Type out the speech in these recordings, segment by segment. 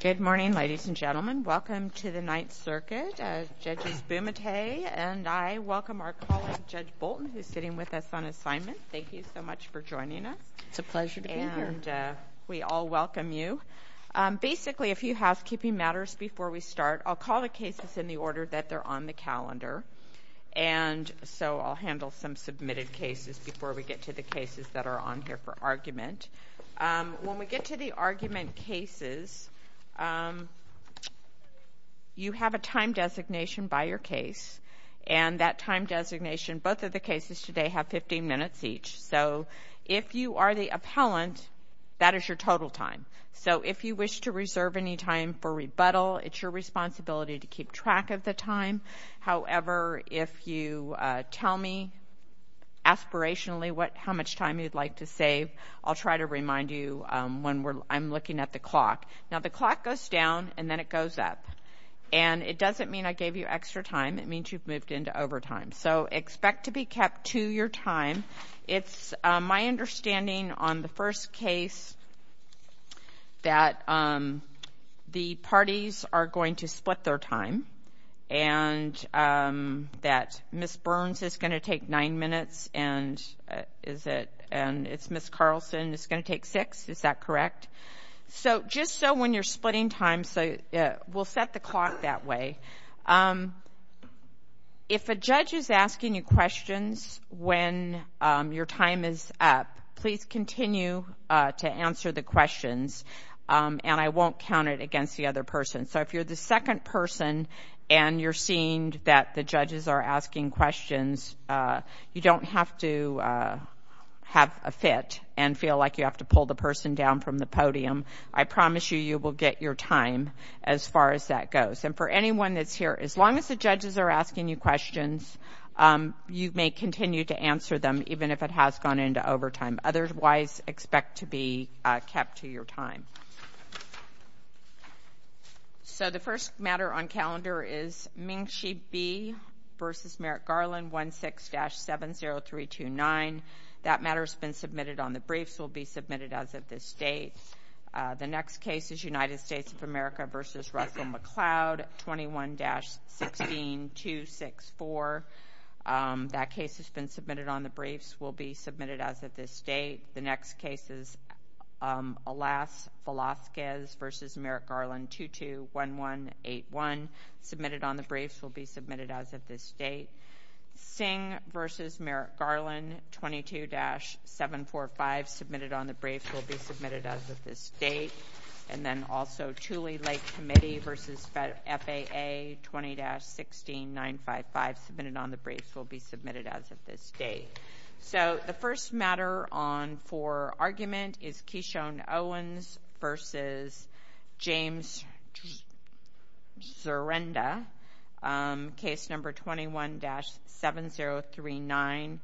Good morning, ladies and gentlemen. Welcome to the Ninth Circuit. Judge Bumate and I welcome our colleague, Judge Bolton, who's sitting with us on assignment. Thank you so much for joining us. It's a pleasure to be here. And we all welcome you. Basically, a few housekeeping matters before we start. I'll call the cases in the order that they're on the calendar. And so I'll handle some submitted cases before we get to the cases that are on here for argument. When we get to the argument cases, you have a time designation by your case. And that time designation, both of the cases today have 15 minutes each. So if you are the appellant, that is your total time. So if you wish to reserve any time for rebuttal, it's your responsibility to keep track of the time. However, if you tell me aspirationally how much time you'd like to save, I'll try to remind you when I'm looking at the clock. Now, the clock goes down and then it goes up. And it doesn't mean I gave you extra time. It means you've moved into overtime. So expect to be kept to your time. It's my understanding on the first case that the parties are going to split their time and that Ms. Burns is going to take nine minutes and it's Ms. Carlson is going to take six. Is that correct? So just so when you're splitting time, we'll set the clock that way. If a judge is asking you questions when your time is up, please continue to answer the questions. And I won't count it against the other person. So if you're the second person and you're seeing that the judges are asking questions, you don't have to have a fit and feel like you have to pull the person down from the podium. I promise you, you will get your time as far as that goes. And for anyone that's here, as long as the judges are asking you questions, you may continue to answer them even if it has gone into overtime. Otherwise, expect to be kept to your time. So the first matter on calendar is Ming-Chi Bee v. Merrick Garland, 1-6-70329. That matter has been submitted on the briefs. It will be submitted as of this date. The next case is United States of America v. Russell McCloud, 21-16264. That case has been submitted on the briefs. It will be submitted as of this date. The next case is Alaska v. Merrick Garland, 22-1181. Submitted on the briefs. It will be submitted as of this date. Singh v. Merrick Garland, 22-745. Submitted on the briefs. It will be submitted as of this date. And then also Tule Lake Committee v. FAA, 20-16955. Submitted on the briefs. It will be submitted as of this date. So the first matter on for argument is Keishon Owens v. James Zarenda, case number 21-7039.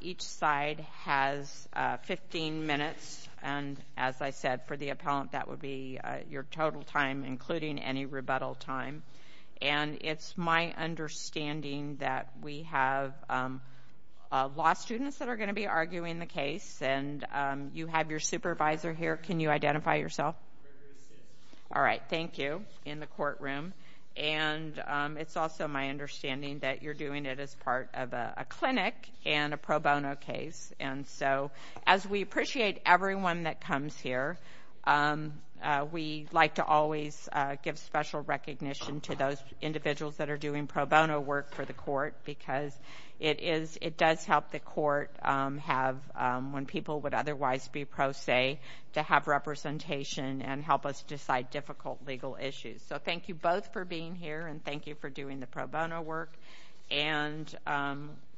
Each side has 15 minutes. And as I said, for the appellant, that would be your total time, including any rebuttal time. And it's my understanding that we have 15 minutes of law students that are going to be arguing the case. And you have your supervisor here. Can you identify yourself? All right. Thank you. In the courtroom. And it's also my understanding that you're doing it as part of a clinic and a pro bono case. And so as we appreciate everyone that comes here, we like to always give special recognition to those individuals that are doing pro bono work for the court. Because it does help the court have, when people would otherwise be pro se, to have representation and help us decide difficult legal issues. So thank you both for being here. And thank you for doing the pro bono work. And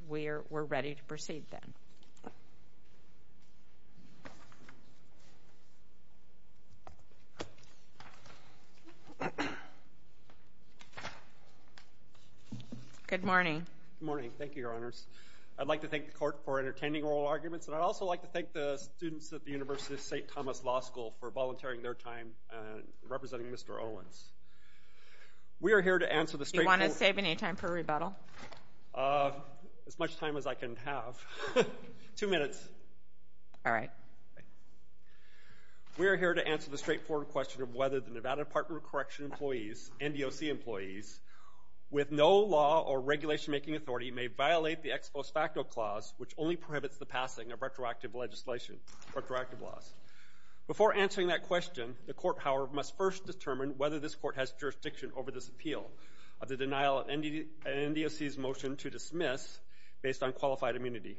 we're ready to proceed then. Good morning. Good morning. Thank you, Your Honors. I'd like to thank the court for entertaining oral arguments. And I'd also like to thank the students at the University of St. Thomas Law School for volunteering their time and representing Mr. Owens. We are here to answer the straight forward... Do you want to save any time for rebuttal? As much time as I can have. Two minutes. All right. We're here to answer the straightforward question of whether the Nevada Department of Correction employees, NDOC employees, with no law or regulation-making authority may violate the Ex Post Facto Clause, which only prohibits the passing of retroactive laws. Before answering that question, the court, however, must first determine whether this court has jurisdiction over this appeal of the denial of an NDOC's motion to dismiss based on qualified immunity.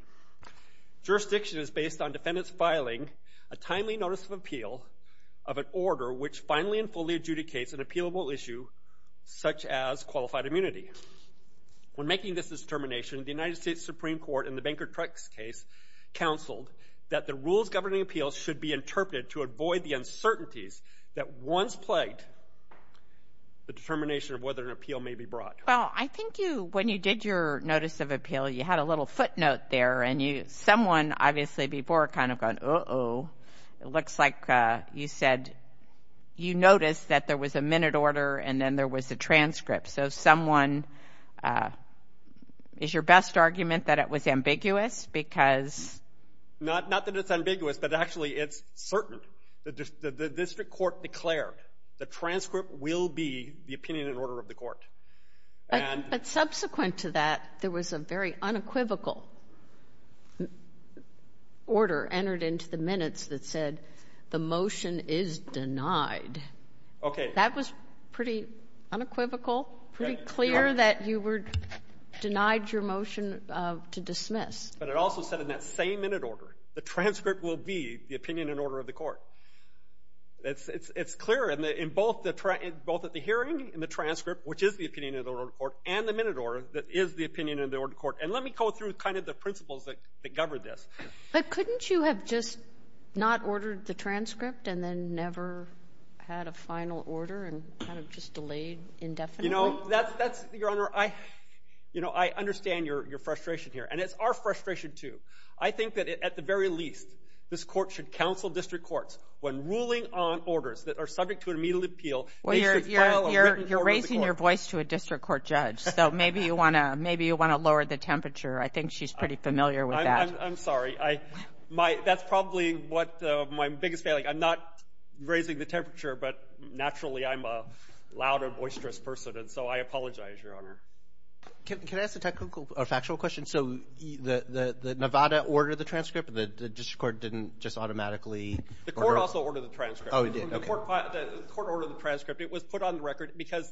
Jurisdiction is based on defendants filing a timely notice of appeal of an order which finally and fully adjudicates an appealable issue such as qualified immunity. When making this determination, the United States Supreme Court in the Banker-Trux case counseled that the rules governing appeals should be interpreted to avoid the uncertainties that once plagued the determination of whether an appeal may be brought. Well, I think you, when you did your notice of appeal, you had a little footnote there and you, someone, obviously, before kind of gone, uh-oh, it looks like you said, you noticed that there was a minute order and then there was a transcript. So someone, is your best argument that it was ambiguous because? Not that it's ambiguous, but actually it's certain that the district court declared the transcript will be the opinion and order of the court. But subsequent to that, there was a very unequivocal order entered into the minutes that said the motion is denied. That was pretty unequivocal, pretty clear that you were denied your motion to dismiss. But it also said in that same minute order, the transcript will be the opinion and order of the court. It's clear in both the hearing and the transcript, which is the opinion and order of the court, and the minute order that is the opinion and order of the court. And let me go through kind of the principles that govern this. But couldn't you have just not ordered the transcript and then never had a final order and kind of just delayed indefinitely? You know, that's, Your Honor, I understand your frustration here. And it's our frustration, too. I think that, at the very least, this court should counsel district courts when ruling on orders that are subject to an immediate appeal, they should follow written order of the court. Well, you're raising your voice to a district court judge. So maybe you want to lower the temperature. I think she's pretty familiar with that. I'm sorry. That's probably what my biggest failing. I'm not raising the temperature, but naturally I'm a louder, boisterous person. And so I apologize, Your Honor. Can I ask a factual question? So the Nevada ordered the transcript, but the district court didn't just automatically order it? The court also ordered the transcript. Oh, it did? The court ordered the transcript. It was put on the record because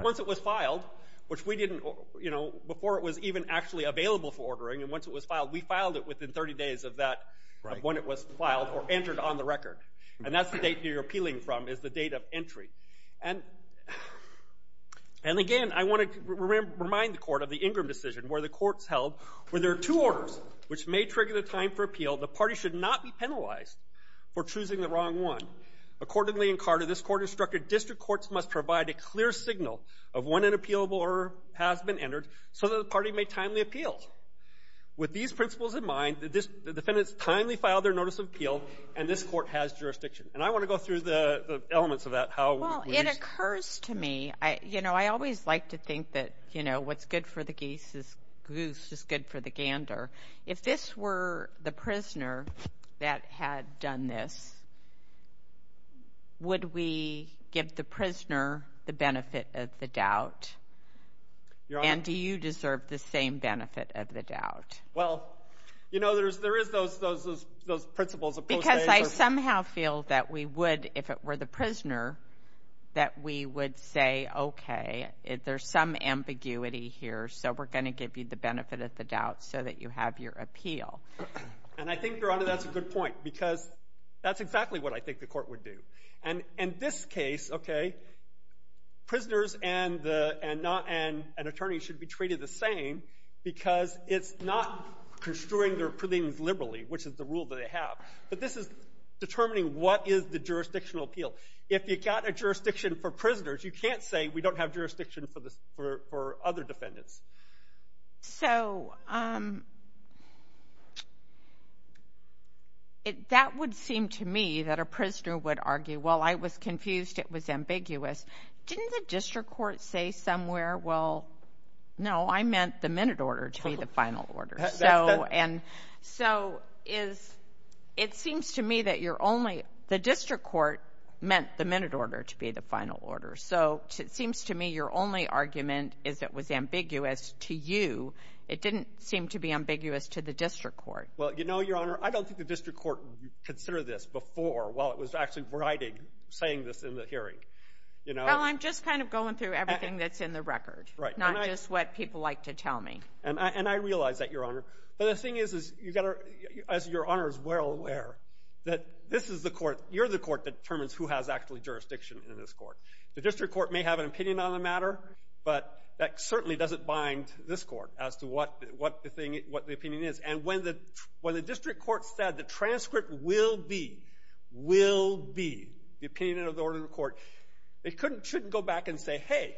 once it was filed, which we didn't, you know, before it was even actually available for ordering. And once it was filed, we filed it within 30 days of that, of when it was filed or entered on the record. And that's the date you're appealing from is the date of entry. And again, I want to remind the court of the Ingram decision where the court's held, where there are two orders which may trigger the time for appeal. The party should not be penalized for choosing the wrong one. Accordingly, in Carter, this court instructed district courts must provide a clear signal of when an appealable order has been entered so that the party may timely appeal. With these principles in mind, the defendants timely filed their notice of appeal, and this court has jurisdiction. And I want to go through the elements of that, how we use it. Well, it occurs to me, you know, I always like to think that, you know, what's good for the goose is good for the gander. If this were the prisoner that had done this, would we give the prisoner the benefit of the doubt, and do you deserve the same benefit of the doubt? Well, you know, there is those principles of postage. Because I somehow feel that we would, if it were the prisoner, that we would say, okay, there's some ambiguity here, so we're going to give you the benefit of the doubt so that you have your appeal. And I think, Your Honor, that's a good point, because that's exactly what I think the court would do. And in this case, okay, prisoners and attorneys should be treated the same because it's not construing their opinions liberally, which is the rule that they have. But this is determining what is the jurisdictional appeal. If you've got a jurisdiction for prisoners, you can't say we don't have jurisdiction for other defendants. So that would seem to me that a prisoner would argue, well, I was confused, it was ambiguous. Didn't the district court say somewhere, well, no, I meant the minute order to be the final order? So it seems to me that you're only, the district court meant the minute order to be the final order. So it seems to me your only argument is it was ambiguous to you. It didn't seem to be ambiguous to the district court. Well, you know, Your Honor, I don't think the district court would consider this before while it was actually writing, saying this in the hearing. Well, I'm just kind of going through everything that's in the record, not just what people like to tell me. And I realize that, Your Honor. But the thing is, as Your Honor is well aware, that this is the court, you're the court that determines who has actually jurisdiction in this court. The district court may have an opinion on the matter, but that certainly doesn't bind this court as to what the opinion is. And when the district court said the transcript will be, will be, the opinion of the order of the court, they shouldn't go back and say, hey,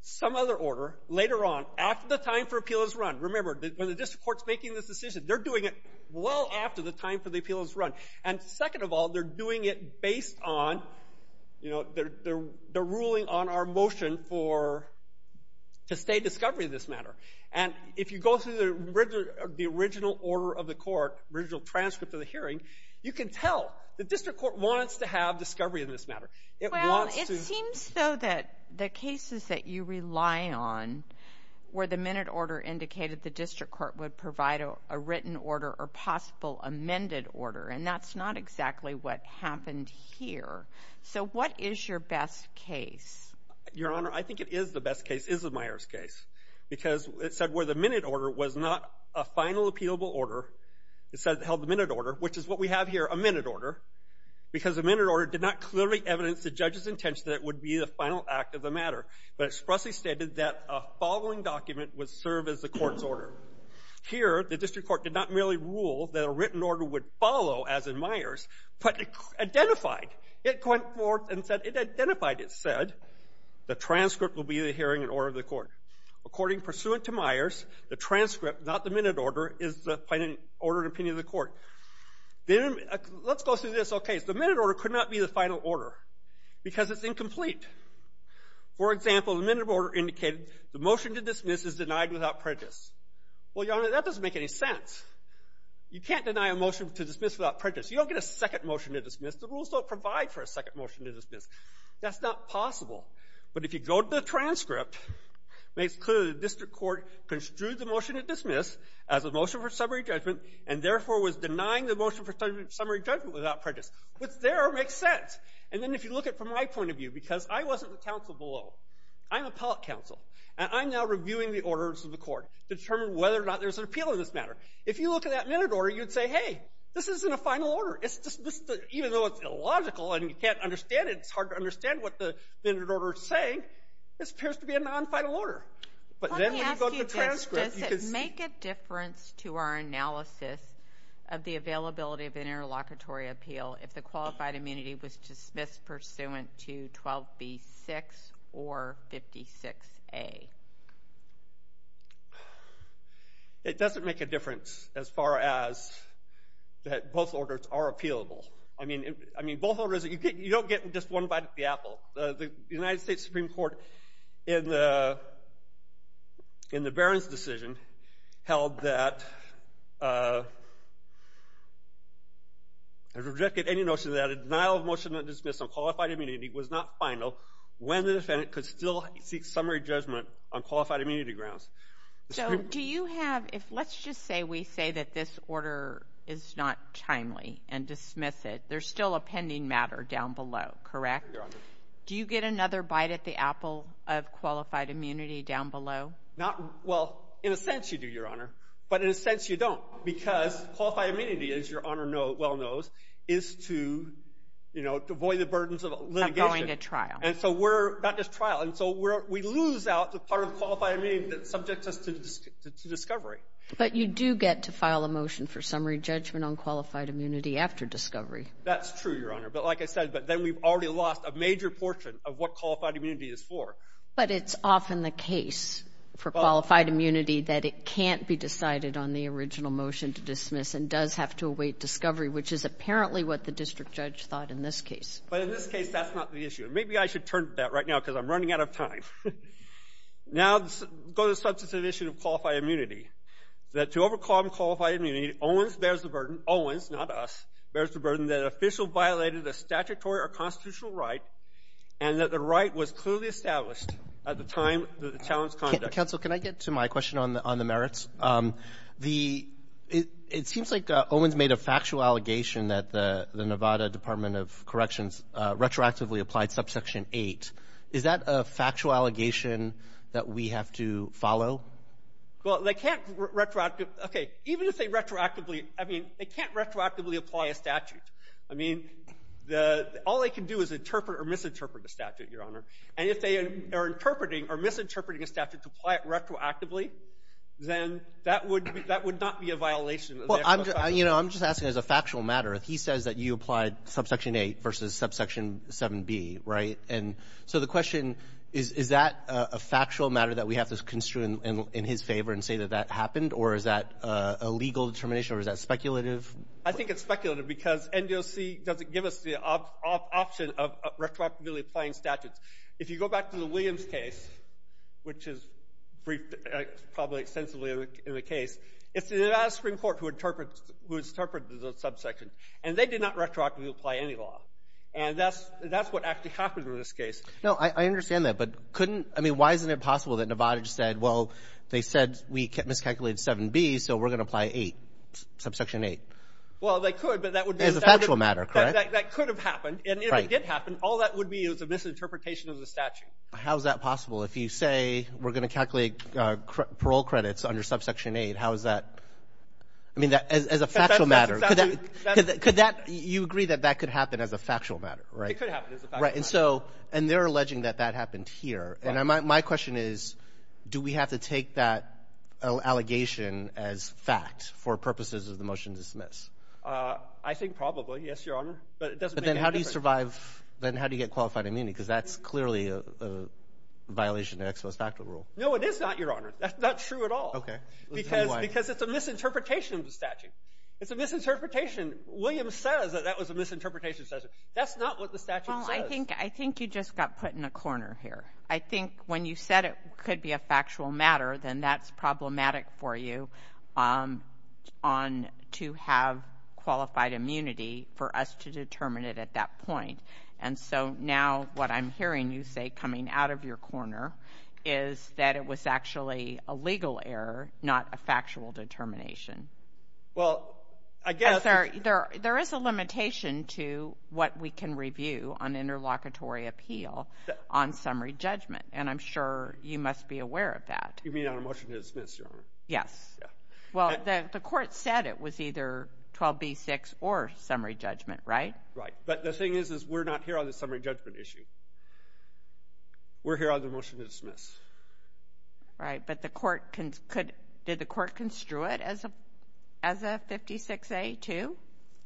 some other order later on, after the time for appeal has run. Remember, when the district court's making this decision, they're doing it well after the time for the appeal has run. And second of all, they're doing it based on, you know, they're ruling on our motion for, to stay discovery in this matter. And if you go through the original order of the court, original transcript of the hearing, you can tell. The district court wants to have discovery in this matter. It wants to. Well, it seems, though, that the cases that you rely on, where the minute order indicated the district court would provide a written order or possible amended order, and that's not exactly what happened here. So what is your best case? Your Honor, I think it is the best case, is the Myers case, because it said where the minute order was not a final appealable order. It said it held the minute order, which is what we have here, a minute order, because the minute order did not clearly evidence the judge's intention that it would be the final act of the matter, but expressly stated that a following document would serve as the court's order. Here, the district court did not merely rule that a written order would follow, as in Myers, but identified. It went forth and said, it identified, it said, the transcript will be the hearing and order of the court. According, pursuant to Myers, the transcript, not the minute order, is the final order and opinion of the court. Let's go through this whole case. The minute order could not be the final order, because it's incomplete. For example, the minute order indicated the motion to dismiss is denied without prejudice. Well, Your Honor, that doesn't make any sense. You can't deny a motion to dismiss without prejudice. You don't get a second motion to dismiss. The rules don't provide for a second motion to dismiss. That's not possible. But if you go to the transcript, it makes clear the district court construed the motion to dismiss as a motion for summary judgment, and therefore was denying the motion for summary judgment without prejudice. What's there makes sense. And then if you look at it from my point of view, because I wasn't the counsel below. I'm appellate counsel, and I'm now reviewing the orders of the court to determine whether or not there's an appeal in this matter. If you look at that minute order, you'd say, hey, this isn't a final order. Even though it's illogical and you can't understand it, it's hard to understand what the minute order is saying, this appears to be a non-final order. But then when you go to the transcript, you can see. Let me ask you, does it make a difference to our analysis of the availability of an interlocutory appeal if the qualified immunity was dismissed pursuant to 12B6 or 56A? It doesn't make a difference as far as that both orders are appealable. I mean, both orders, you don't get just one bite of the apple. The United States Supreme Court, in the Barron's decision, held that, rejected any notion that a denial of motion of dismissal on qualified immunity was not final when the defendant could still seek summary judgment on qualified immunity grounds. So do you have, let's just say we say that this order is not timely and dismiss it. There's still a pending matter down below, correct? Do you get another bite at the apple of qualified immunity down below? Well, in a sense you do, Your Honor, but in a sense you don't. Because qualified immunity, as Your Honor well knows, is to avoid the burdens of litigation. Of going to trial. And so we're, not just trial, and so we lose out the part of qualified immunity that subjects us to discovery. But you do get to file a motion for summary judgment on qualified immunity after discovery. That's true, Your Honor. But like I said, but then we've already lost a major portion of what qualified immunity is for. But it's often the case for qualified immunity that it can't be decided on the original motion to dismiss and does have to await discovery, which is apparently what the district judge thought in this case. But in this case that's not the issue. Maybe I should turn to that right now because I'm running out of time. Now let's go to the substantive issue of qualified immunity. That to overcome qualified immunity, Owens bears the burden. Owens, not us, bears the burden that an official violated a statutory or constitutional right and that the right was clearly established at the time that the challenge was conducted. Counsel, can I get to my question on the merits? It seems like Owens made a factual allegation that the Nevada Department of Corrections retroactively applied Subsection 8. Is that a factual allegation that we have to follow? Well, they can't retroactively – okay. Even if they retroactively – I mean, they can't retroactively apply a statute. I mean, the – all they can do is interpret or misinterpret a statute, Your Honor. And if they are interpreting or misinterpreting a statute to apply it retroactively, then that would – that would not be a violation of the actual statute. Well, I'm – you know, I'm just asking as a factual matter. He says that you applied Subsection 8 versus Subsection 7b, right? And so the question, is that a factual matter that we have to construe in his favor and say that that happened, or is that a legal determination, or is that speculative? I think it's speculative because NDOC doesn't give us the option of retroactively applying statutes. If you go back to the Williams case, which is briefed probably extensively in the case, it's the Nevada Supreme Court who interprets – who interprets the subsection. And they did not retroactively apply any law. And that's – that's what actually happened in this case. No, I understand that. But couldn't – I mean, why isn't it possible that Nevada just said, well, they said we miscalculated 7b, so we're going to apply 8, Subsection 8? Well, they could, but that would be – As a factual matter, correct? That could have happened. Right. And if it did happen, all that would be is a misinterpretation of the statute. How is that possible? If you say we're going to calculate parole credits under Subsection 8, how is that – I mean, as a factual matter. That's exactly – Could that – you agree that that could happen as a factual matter, right? It could happen as a factual matter. Right. And so – and they're alleging that that happened here. And my question is, do we have to take that allegation as fact for purposes of the motion to dismiss? I think probably, yes, Your Honor. But it doesn't make any difference. But then how do you survive – then how do you get qualified immunity? Because that's clearly a violation of the ex post facto rule. No, it is not, Your Honor. That's not true at all. Okay. Because it's a misinterpretation of the statute. Right. It's a misinterpretation. Williams says that that was a misinterpretation of the statute. That's not what the statute says. Well, I think – I think you just got put in a corner here. I think when you said it could be a factual matter, then that's problematic for you to have qualified immunity for us to determine it at that point. And so now what I'm hearing you say coming out of your corner is that it was actually a legal error, not a factual determination. Well, I guess – I'm sorry. There is a limitation to what we can review on interlocutory appeal on summary judgment. And I'm sure you must be aware of that. You mean on a motion to dismiss, Your Honor? Yes. Well, the court said it was either 12b-6 or summary judgment, right? Right. But the thing is, is we're not here on the summary judgment issue. We're here on the motion to dismiss. Right. But the court – did the court construe it as a 56a-2?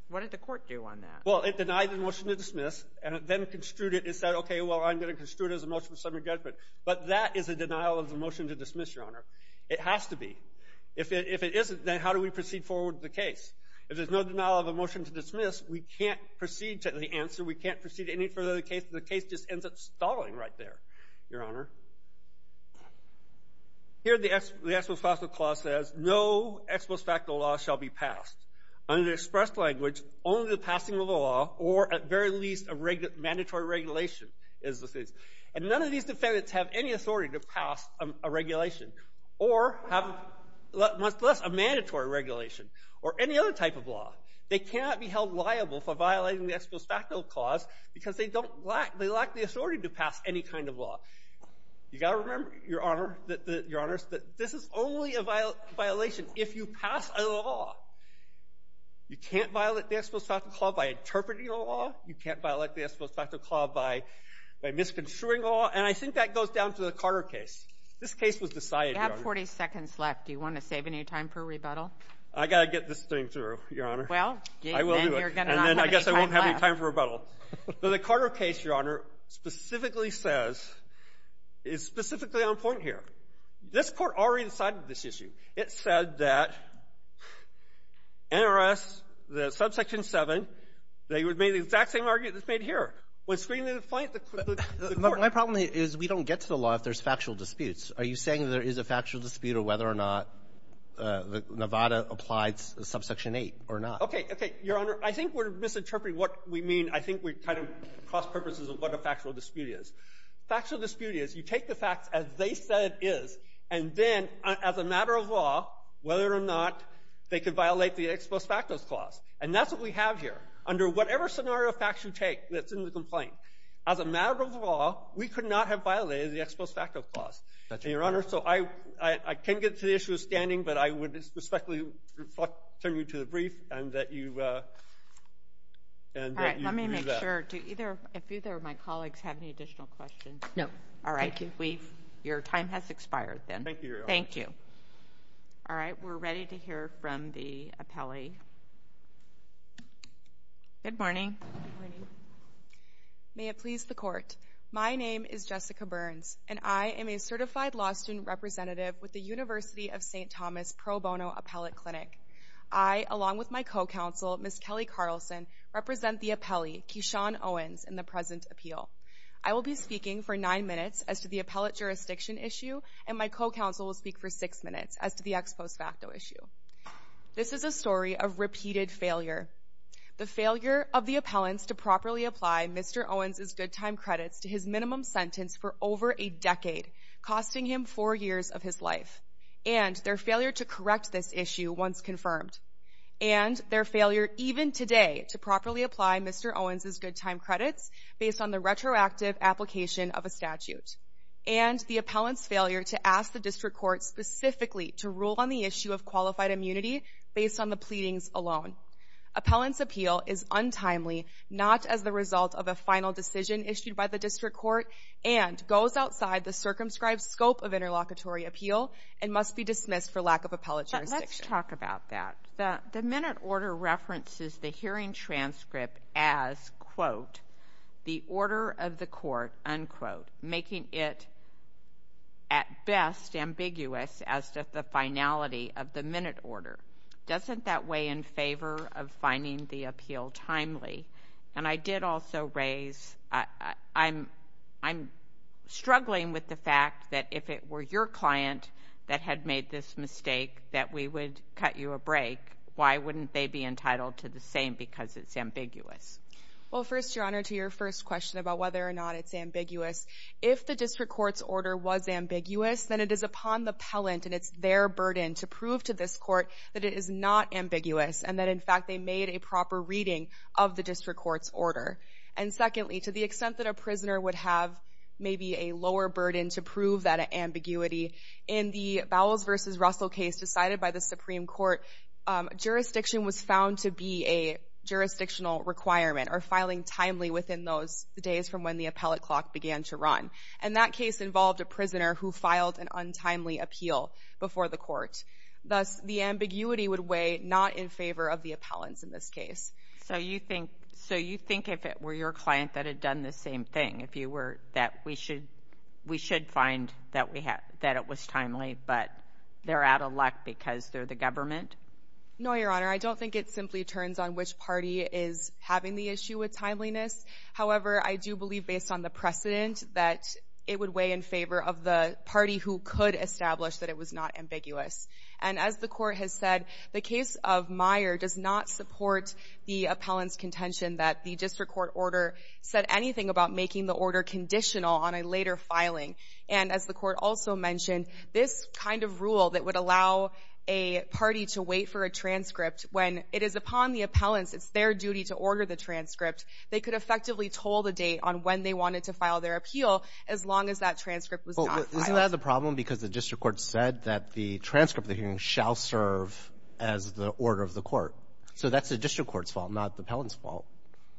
What did the court do on that? Well, it denied the motion to dismiss and then construed it and said, okay, well, I'm going to construe it as a motion of summary judgment. But that is a denial of the motion to dismiss, Your Honor. It has to be. If it isn't, then how do we proceed forward with the case? If there's no denial of the motion to dismiss, we can't proceed to the answer. We can't proceed any further with the case. The case just ends up stalling right there, Your Honor. Here the ex post facto clause says, no ex post facto law shall be passed. Under the express language, only the passing of a law or at very least a mandatory regulation is the case. And none of these defendants have any authority to pass a regulation or have much less a mandatory regulation or any other type of law. They cannot be held liable for violating the ex post facto clause because they lack the authority to pass any kind of law. You've got to remember, Your Honor, that this is only a violation if you pass a law. You can't violate the ex post facto clause by interpreting a law. You can't violate the ex post facto clause by misconstruing a law. And I think that goes down to the Carter case. This case was decided, Your Honor. You have 40 seconds left. Do you want to save any time for rebuttal? I've got to get this thing through, Your Honor. Well, then you're going to not have any time left. And then I guess I won't have any time for rebuttal. But the Carter case, Your Honor, specifically says, is specifically on point here. This Court already decided this issue. It said that NRS, the subsection 7, they would make the exact same argument that's made here. When screening the plaintiff, the Court — My problem is we don't get to the law if there's factual disputes. Are you saying there is a factual dispute of whether or not Nevada applied subsection 8 or not? Okay. Okay. Your Honor, I think we're misinterpreting what we mean. I think we're kind of cross-purposes of what a factual dispute is. Factual dispute is, you take the facts as they said it is, and then, as a matter of law, whether or not they could violate the ex post facto clause. And that's what we have here. Under whatever scenario of facts you take that's in the complaint, as a matter of law, we could not have violated the ex post facto clause. That's right. And, Your Honor, so I can't get to the issue of standing, but I would respectfully refer you to the brief and that you — All right. Let me make sure to either — if either of my colleagues have any additional questions. No. All right. Thank you. We've — your time has expired, then. Thank you, Your Honor. Thank you. All right. We're ready to hear from the appellee. Good morning. Good morning. May it please the Court, my name is Jessica Burns, and I am a certified law student representative with the University of St. Thomas Pro Bono Appellate Clinic. I, along with my co-counsel, Ms. Kelly Carlson, represent the appellee, Keyshawn Owens, in the present appeal. I will be speaking for nine minutes as to the appellate jurisdiction issue, and my co-counsel will speak for six minutes as to the ex post facto issue. This is a story of repeated failure. The failure of the appellants to properly apply Mr. Owens' good time credits to his minimum sentence for over a decade, costing him four years of his life. And their failure to correct this issue once confirmed. And their failure, even today, to properly apply Mr. Owens' good time credits based on the retroactive application of a statute. And the appellant's failure to ask the district court specifically to rule on the issue of qualified immunity based on the pleadings alone. Appellant's appeal is untimely, not as the result of a final decision issued by the district court, and goes outside the circumscribed scope of interlocutory appeal and must be dismissed for lack of appellate jurisdiction. Let's talk about that. The minute order references the hearing transcript as, quote, the order of the court, unquote, making it at best ambiguous as to the finality of the minute order. Doesn't that weigh in favor of finding the appeal timely? And I did also raise, I'm struggling with the fact that if it were your client that had made this mistake, that we would cut you a break, why wouldn't they be entitled to the same because it's ambiguous? Well, first, Your Honor, to your first question about whether or not it's ambiguous, if the district court's order was ambiguous, then it is upon the appellant and it's their burden to prove to this court that it is not ambiguous and that, in fact, they made a proper reading of the district court's order. And secondly, to the extent that a prisoner would have maybe a lower burden to prove that ambiguity, in the Bowles v. Russell case decided by the Supreme Court, jurisdiction was found to be a jurisdictional requirement or filing timely within those days from when the appellate clock began to run. And that case involved a prisoner who filed an untimely appeal before the court. Thus, the ambiguity would weigh not in favor of the appellants in this case. So you think if it were your client that had done the same thing, if you were, that we should find that it was timely, but they're out of luck because they're the government? No, Your Honor. I don't think it simply turns on which party is having the issue with timeliness. However, I do believe, based on the precedent, that it would weigh in favor of the party who could establish that it was not ambiguous. And as the court has said, the case of Meyer does not support the appellant's contention that the district court order said anything about making the order conditional on a later filing. And as the court also mentioned, this kind of rule that would allow a party to wait for a transcript when it is upon the appellants, it's their duty to order the transcript, they could effectively toll the date on when they wanted to file their appeal as long as that transcript was not filed. Isn't that the problem? Because the district court said that the transcript of the hearing shall serve as the order of the court. So that's the district court's fault, not the appellant's fault.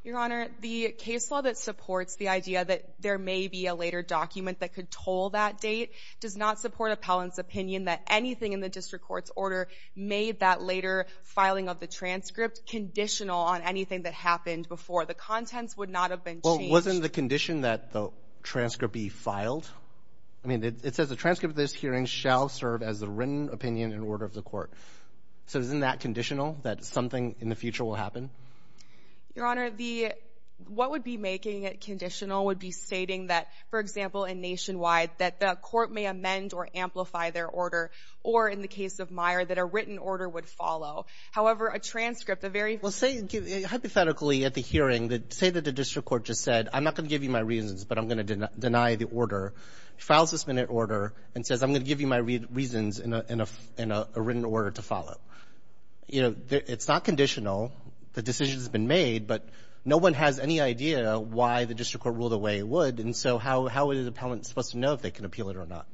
Your Honor, the case law that supports the idea that there may be a later document that could toll that date does not support appellant's opinion that anything in the district court's order made that later filing of the transcript conditional on anything that happened before. The contents would not have been changed. Well, wasn't the condition that the transcript be filed? I mean, it says the transcript of this hearing shall serve as the written opinion and order of the court. So isn't that conditional, that something in the future will happen? Your Honor, what would be making it conditional would be stating that, for example, in Nationwide, that the court may amend or amplify their order, or in the case of Meyer, that a written order would follow. However, a transcript, a very... Well, hypothetically, at the hearing, say that the district court just said, I'm not going to give you my reasons, but I'm going to deny the order. Files this minute order and says, I'm going to give you my reasons and a written order to follow. You know, it's not conditional. The decision has been made, but no one has any idea why the district court ruled the way it would. And so how is an appellant supposed to know if they can appeal it or not?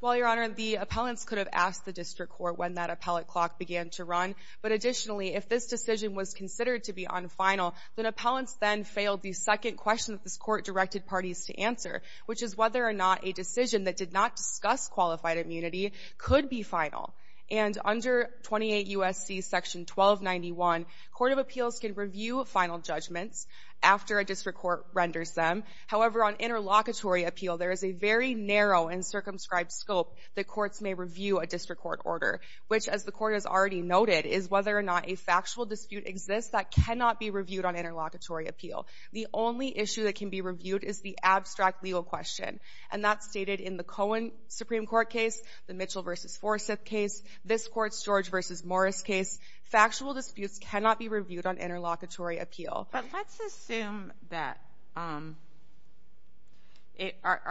Well, Your Honor, the appellants could have asked the district court when that appellate clock began to run. But additionally, if this decision was considered to be unfinal, then appellants then failed the second question that this court directed parties to answer, which is whether or not a decision that did not discuss qualified immunity could be final. And under 28 U.S.C. section 1291, court of appeals can review final judgments after a district court renders them. However, on interlocutory appeal, there is a very narrow and circumscribed scope that courts may review a district court order, which, as the court has already noted, is whether or not a factual dispute exists that cannot be reviewed on interlocutory appeal. The only issue that can be reviewed is the abstract legal question. And that's stated in the Cohen Supreme Court case, the Mitchell v. Forsyth case, this court's George v. Morris case. Factual disputes cannot be reviewed on interlocutory appeal. But let's assume that... Are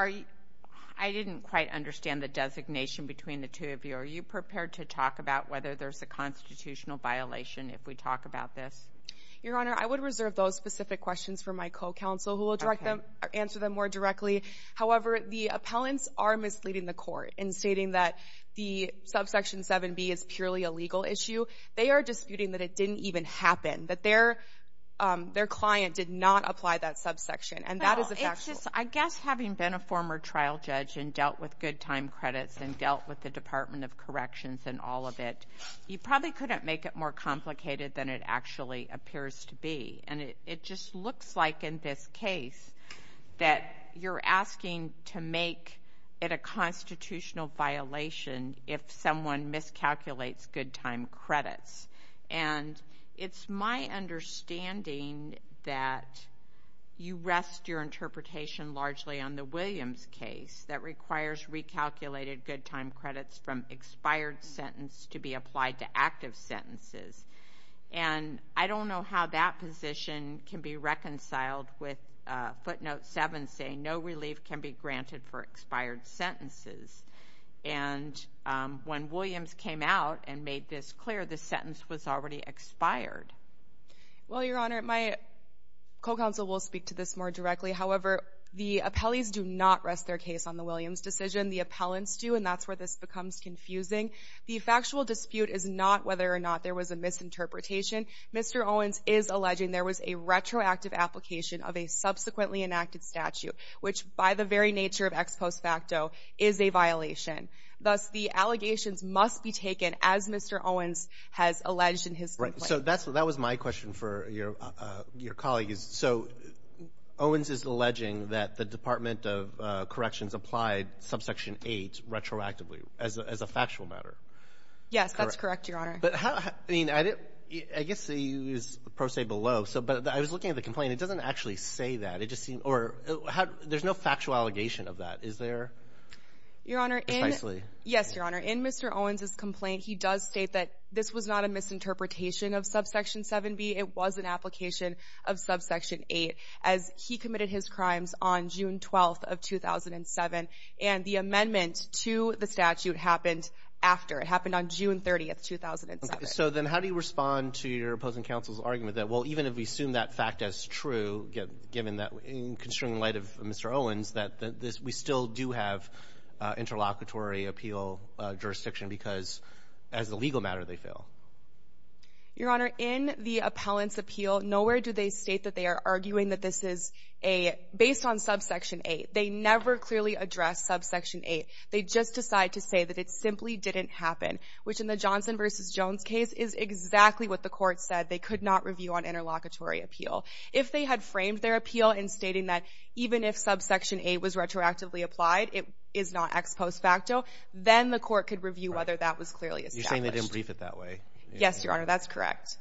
you... I didn't quite understand the designation between the two of you. Are you prepared to talk about whether there's a constitutional violation if we talk about this? Your Honor, I would reserve those specific questions for my co-counsel, who will answer them more directly. However, the appellants are misleading the court in stating that the Subsection 7B is purely a legal issue. They are disputing that it didn't even happen, that their client did not apply that subsection, and that is a factual... Well, it's just, I guess, having been a former trial judge and dealt with good time credits and dealt with the Department of Corrections and all of it, you probably couldn't make it more complicated than it actually appears to be. And it just looks like, in this case, that you're asking to make it a constitutional violation if someone miscalculates good time credits. And it's my understanding that you rest your interpretation largely on the Williams case that requires recalculated good time credits from expired sentence to be applied to active sentences. And I don't know how that position can be reconciled with footnote 7 saying, no relief can be granted for expired sentences. And when Williams came out and made this clear, the sentence was already expired. Well, Your Honor, my co-counsel will speak to this more directly. However, the appellees do not rest their case on the Williams decision. The appellants do, and that's where this becomes confusing. The factual dispute is not whether or not there was a misinterpretation. Mr. Owens is alleging there was a retroactive application of a subsequently enacted statute, which, by the very nature of ex post facto, is a violation. Thus, the allegations must be taken, as Mr. Owens has alleged in his complaint. Right. So that was my question for your colleagues. So Owens is alleging that the Department of Corrections applied subsection 8 retroactively as a factual matter. Yes, that's correct, Your Honor. But how — I mean, I didn't — I guess you used the pro se below. So — but I was looking at the complaint. It doesn't actually say that. It just seemed — or how — there's no factual allegation of that. Is there? Your Honor, in — Precisely. Yes, Your Honor. In Mr. Owens' complaint, he does state that this was not a misinterpretation of subsection 7b. It was an application of subsection 8 as he committed his crimes on June 12th of 2007. And the amendment to the statute happened after. It happened on June 30th, 2007. Okay. So then how do you respond to your opposing counsel's argument that, well, even if we assume that fact as true, given that — in constraining light of Mr. Owens, that this — we still do have interlocutory appeal jurisdiction because, as a legal matter, they fail? Your Honor, in the appellant's appeal, nowhere do they state that they are arguing that this is a — based on subsection 8. They never clearly address subsection 8. They just decide to say that it simply didn't happen, which, in the Johnson v. Jones case, is exactly what the court said they could not review on interlocutory appeal. If they had framed their appeal in stating that, even if subsection 8 was retroactively applied, it is not ex post facto, then the court could review whether that was clearly established. You're saying they didn't brief it that way. Yes, Your Honor, that's correct.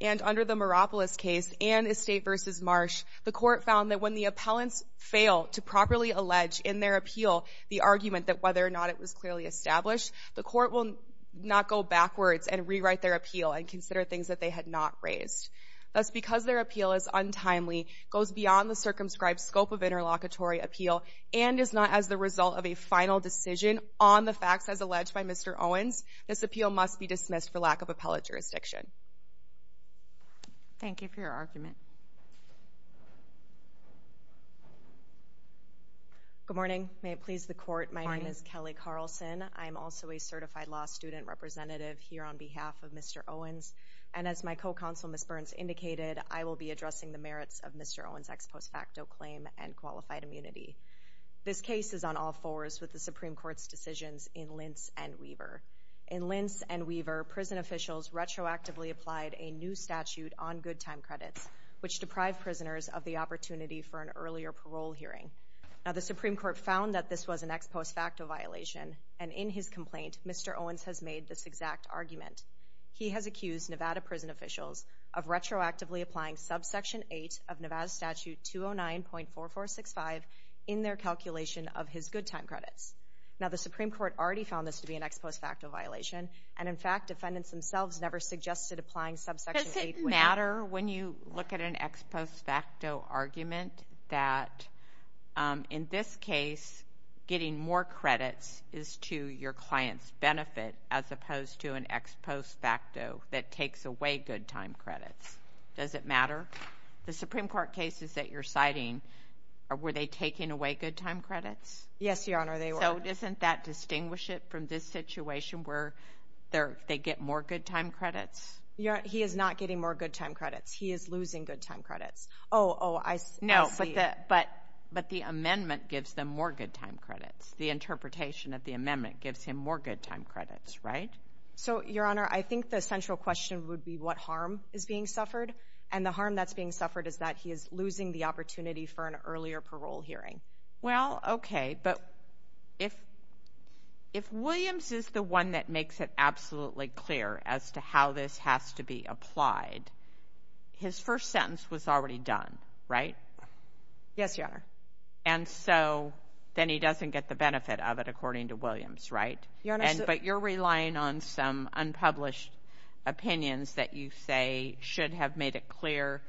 And under the Maropolos case and Estate v. Marsh, the court found that when the appellants fail to properly allege in their appeal the argument that whether or not it was clearly established, the court will not go backwards and rewrite their appeal and consider things that they had not raised. Thus, because their appeal is untimely, goes beyond the circumscribed scope of interlocutory appeal, and is not as the result of a final decision on the facts as alleged by Mr. Owens, this appeal must be dismissed for lack of appellate jurisdiction. Thank you for your argument. Good morning. May it please the court, my name is Kelly Carlson. I am also a certified law student representative here on behalf of Mr. Owens, and as my co-counsel, Ms. Burns, indicated, I will be addressing the merits of Mr. Owens' ex post facto claim and qualified immunity. This case is on all fours with the Supreme Court's decisions in Lentz and Weaver. In Lentz and Weaver, prison officials retroactively applied a new statute on good time credits, which deprived prisoners of the opportunity for an earlier parole hearing. Now, the Supreme Court found that this was an ex post facto violation, and in his complaint, Mr. Owens has made this exact argument. He has accused Nevada prison officials of retroactively applying subsection 8 of Nevada statute 209.4465 in their calculation of his good time credits. Now, the Supreme Court already found this to be an ex post facto violation, and in fact, defendants themselves never suggested applying subsection 8 when... that in this case, getting more credits is to your client's benefit as opposed to an ex post facto that takes away good time credits. Does it matter? The Supreme Court cases that you're citing, were they taking away good time credits? Yes, Your Honor, they were. So isn't that distinguish it from this situation where they get more good time credits? Your Honor, he is not getting more good time credits. He is losing good time credits. Oh, oh, I see. No, but the amendment gives them more good time credits. The interpretation of the amendment gives him more good time credits, right? So, Your Honor, I think the central question would be what harm is being suffered, and the harm that's being suffered is that he is losing the opportunity for an earlier parole hearing. Well, okay, but if Williams is the one that makes it absolutely clear as to how this has to be applied, his first sentence was already done, right? Yes, Your Honor. And so then he doesn't get the benefit of it, according to Williams, right? Your Honor, so... But you're relying on some unpublished opinions that you say should have made it clear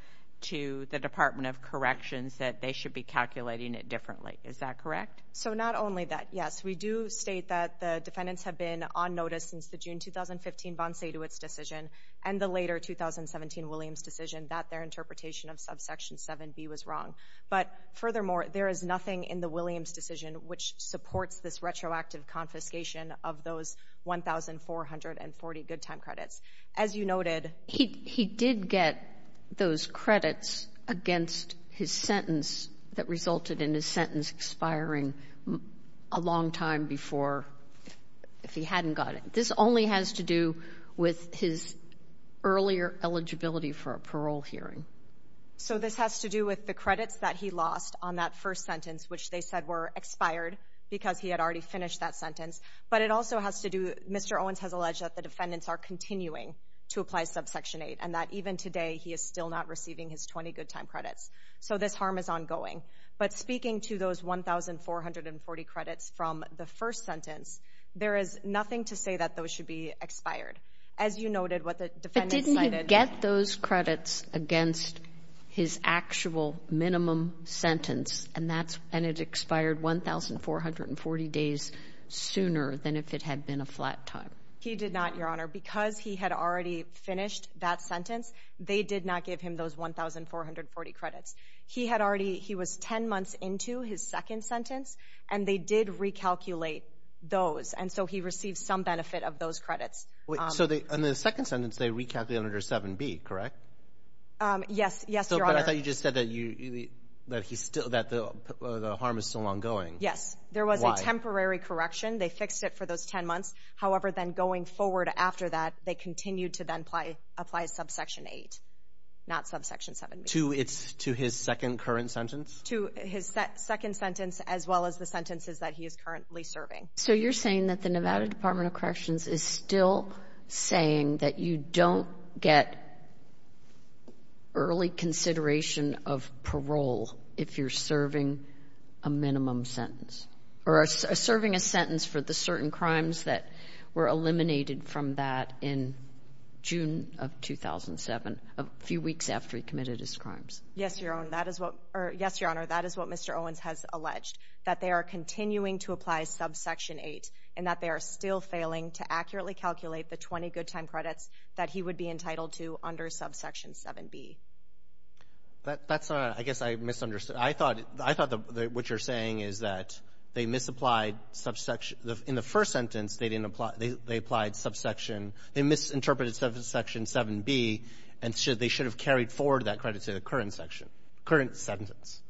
to the Department of Corrections that they should be calculating it differently. Is that correct? So not only that, yes. We do state that the defendants have been on notice since the June 2015 von Seydewitz decision and the later 2017 Williams decision that their interpretation of subsection 7b was wrong. But furthermore, there is nothing in the Williams decision which supports this retroactive confiscation of those 1,440 good time credits. As you noted... He did get those credits against his sentence that resulted in his sentence expiring a long time before, if he hadn't got it. This only has to do with his earlier eligibility for a parole hearing. So this has to do with the credits that he lost on that first sentence, which they said were expired because he had already finished that sentence. But it also has to do... Mr. Owens has alleged that the defendants are continuing to apply subsection 8 and that even today he is still not receiving his 20 good time credits. So this harm is ongoing. But speaking to those 1,440 credits from the first sentence, there is nothing to say that those should be expired. As you noted, what the defendants cited... But didn't he get those credits against his actual minimum sentence and it expired 1,440 days sooner than if it had been a flat time? He did not, Your Honor. Because he had already finished that sentence, they did not give him those 1,440 credits. He was 10 months into his second sentence and they did recalculate those. And so he received some benefit of those credits. So in the second sentence, they recalculated under 7B, correct? Yes, Your Honor. But I thought you just said that the harm is still ongoing. Yes. There was a temporary correction. They fixed it for those 10 months. However, then going forward after that, they continued to then apply subsection 8, not subsection 7B. To his second current sentence? To his second sentence as well as the sentences that he is currently serving. So you're saying that the Nevada Department of Corrections is still saying that you don't get early consideration of parole if you're serving a minimum sentence or serving a sentence for the certain crimes that were eliminated from that in June of 2007, a few weeks after he committed his crimes? Yes, Your Honor. That is what Mr. Owens has alleged, that they are continuing to apply subsection 8 and that they are still failing to accurately calculate the 20 good time credits that he would be entitled to under subsection 7B. That's not right. I guess I misunderstood. I thought what you're saying is that they misapplied subsection. In the first sentence, they didn't apply. They applied subsection. They misinterpreted subsection 7B and they should have carried forward that credit to the current section, current sentence.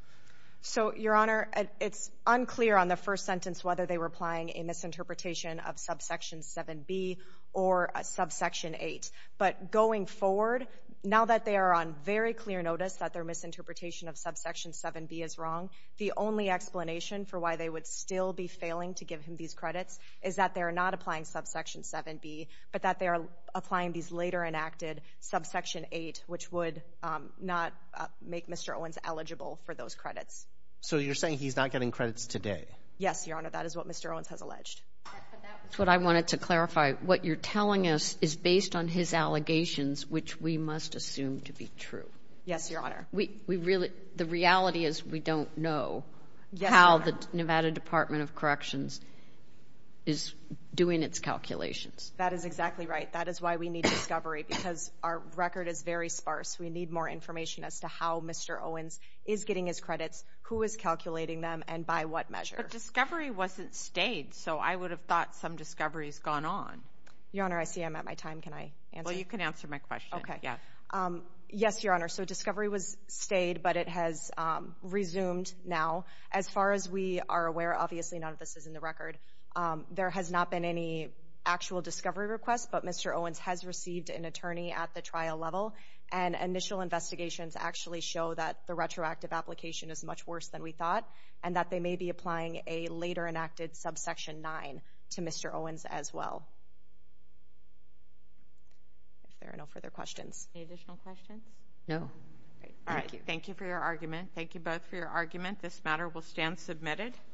So, Your Honor, it's unclear on the first sentence whether they were applying a misinterpretation of subsection 7B or subsection 8. But going forward, now that they are on very clear notice that their misinterpretation of subsection 7B is wrong, the only explanation for why they would still be failing to give him these credits is that they are not applying subsection 7B but that they are applying these later enacted subsection 8, which would not make Mr. Owens eligible for those credits. So you're saying he's not getting credits today? Yes, Your Honor. That is what Mr. Owens has alleged. That's what I wanted to clarify. What you're telling us is based on his allegations, which we must assume to be true. Yes, Your Honor. The reality is we don't know how the Nevada Department of Corrections is doing its calculations. That is exactly right. That is why we need discovery because our record is very sparse. We need more information as to how Mr. Owens is getting his credits, who is calculating them, and by what measure. But discovery wasn't stayed, so I would have thought some discovery has gone on. Your Honor, I see I'm at my time. Can I answer? Well, you can answer my question. Okay. Yes, Your Honor. So discovery was stayed, but it has resumed now. As far as we are aware, obviously none of this is in the record, there has not been any actual discovery request, but Mr. Owens has received an attorney at the trial level, and initial investigations actually show that the retroactive application is much worse than we thought and that they may be applying a later enacted subsection 9 to Mr. Owens as well. If there are no further questions. Any additional questions? No. All right. Thank you for your argument. Thank you both for your argument. This matter will stand submitted.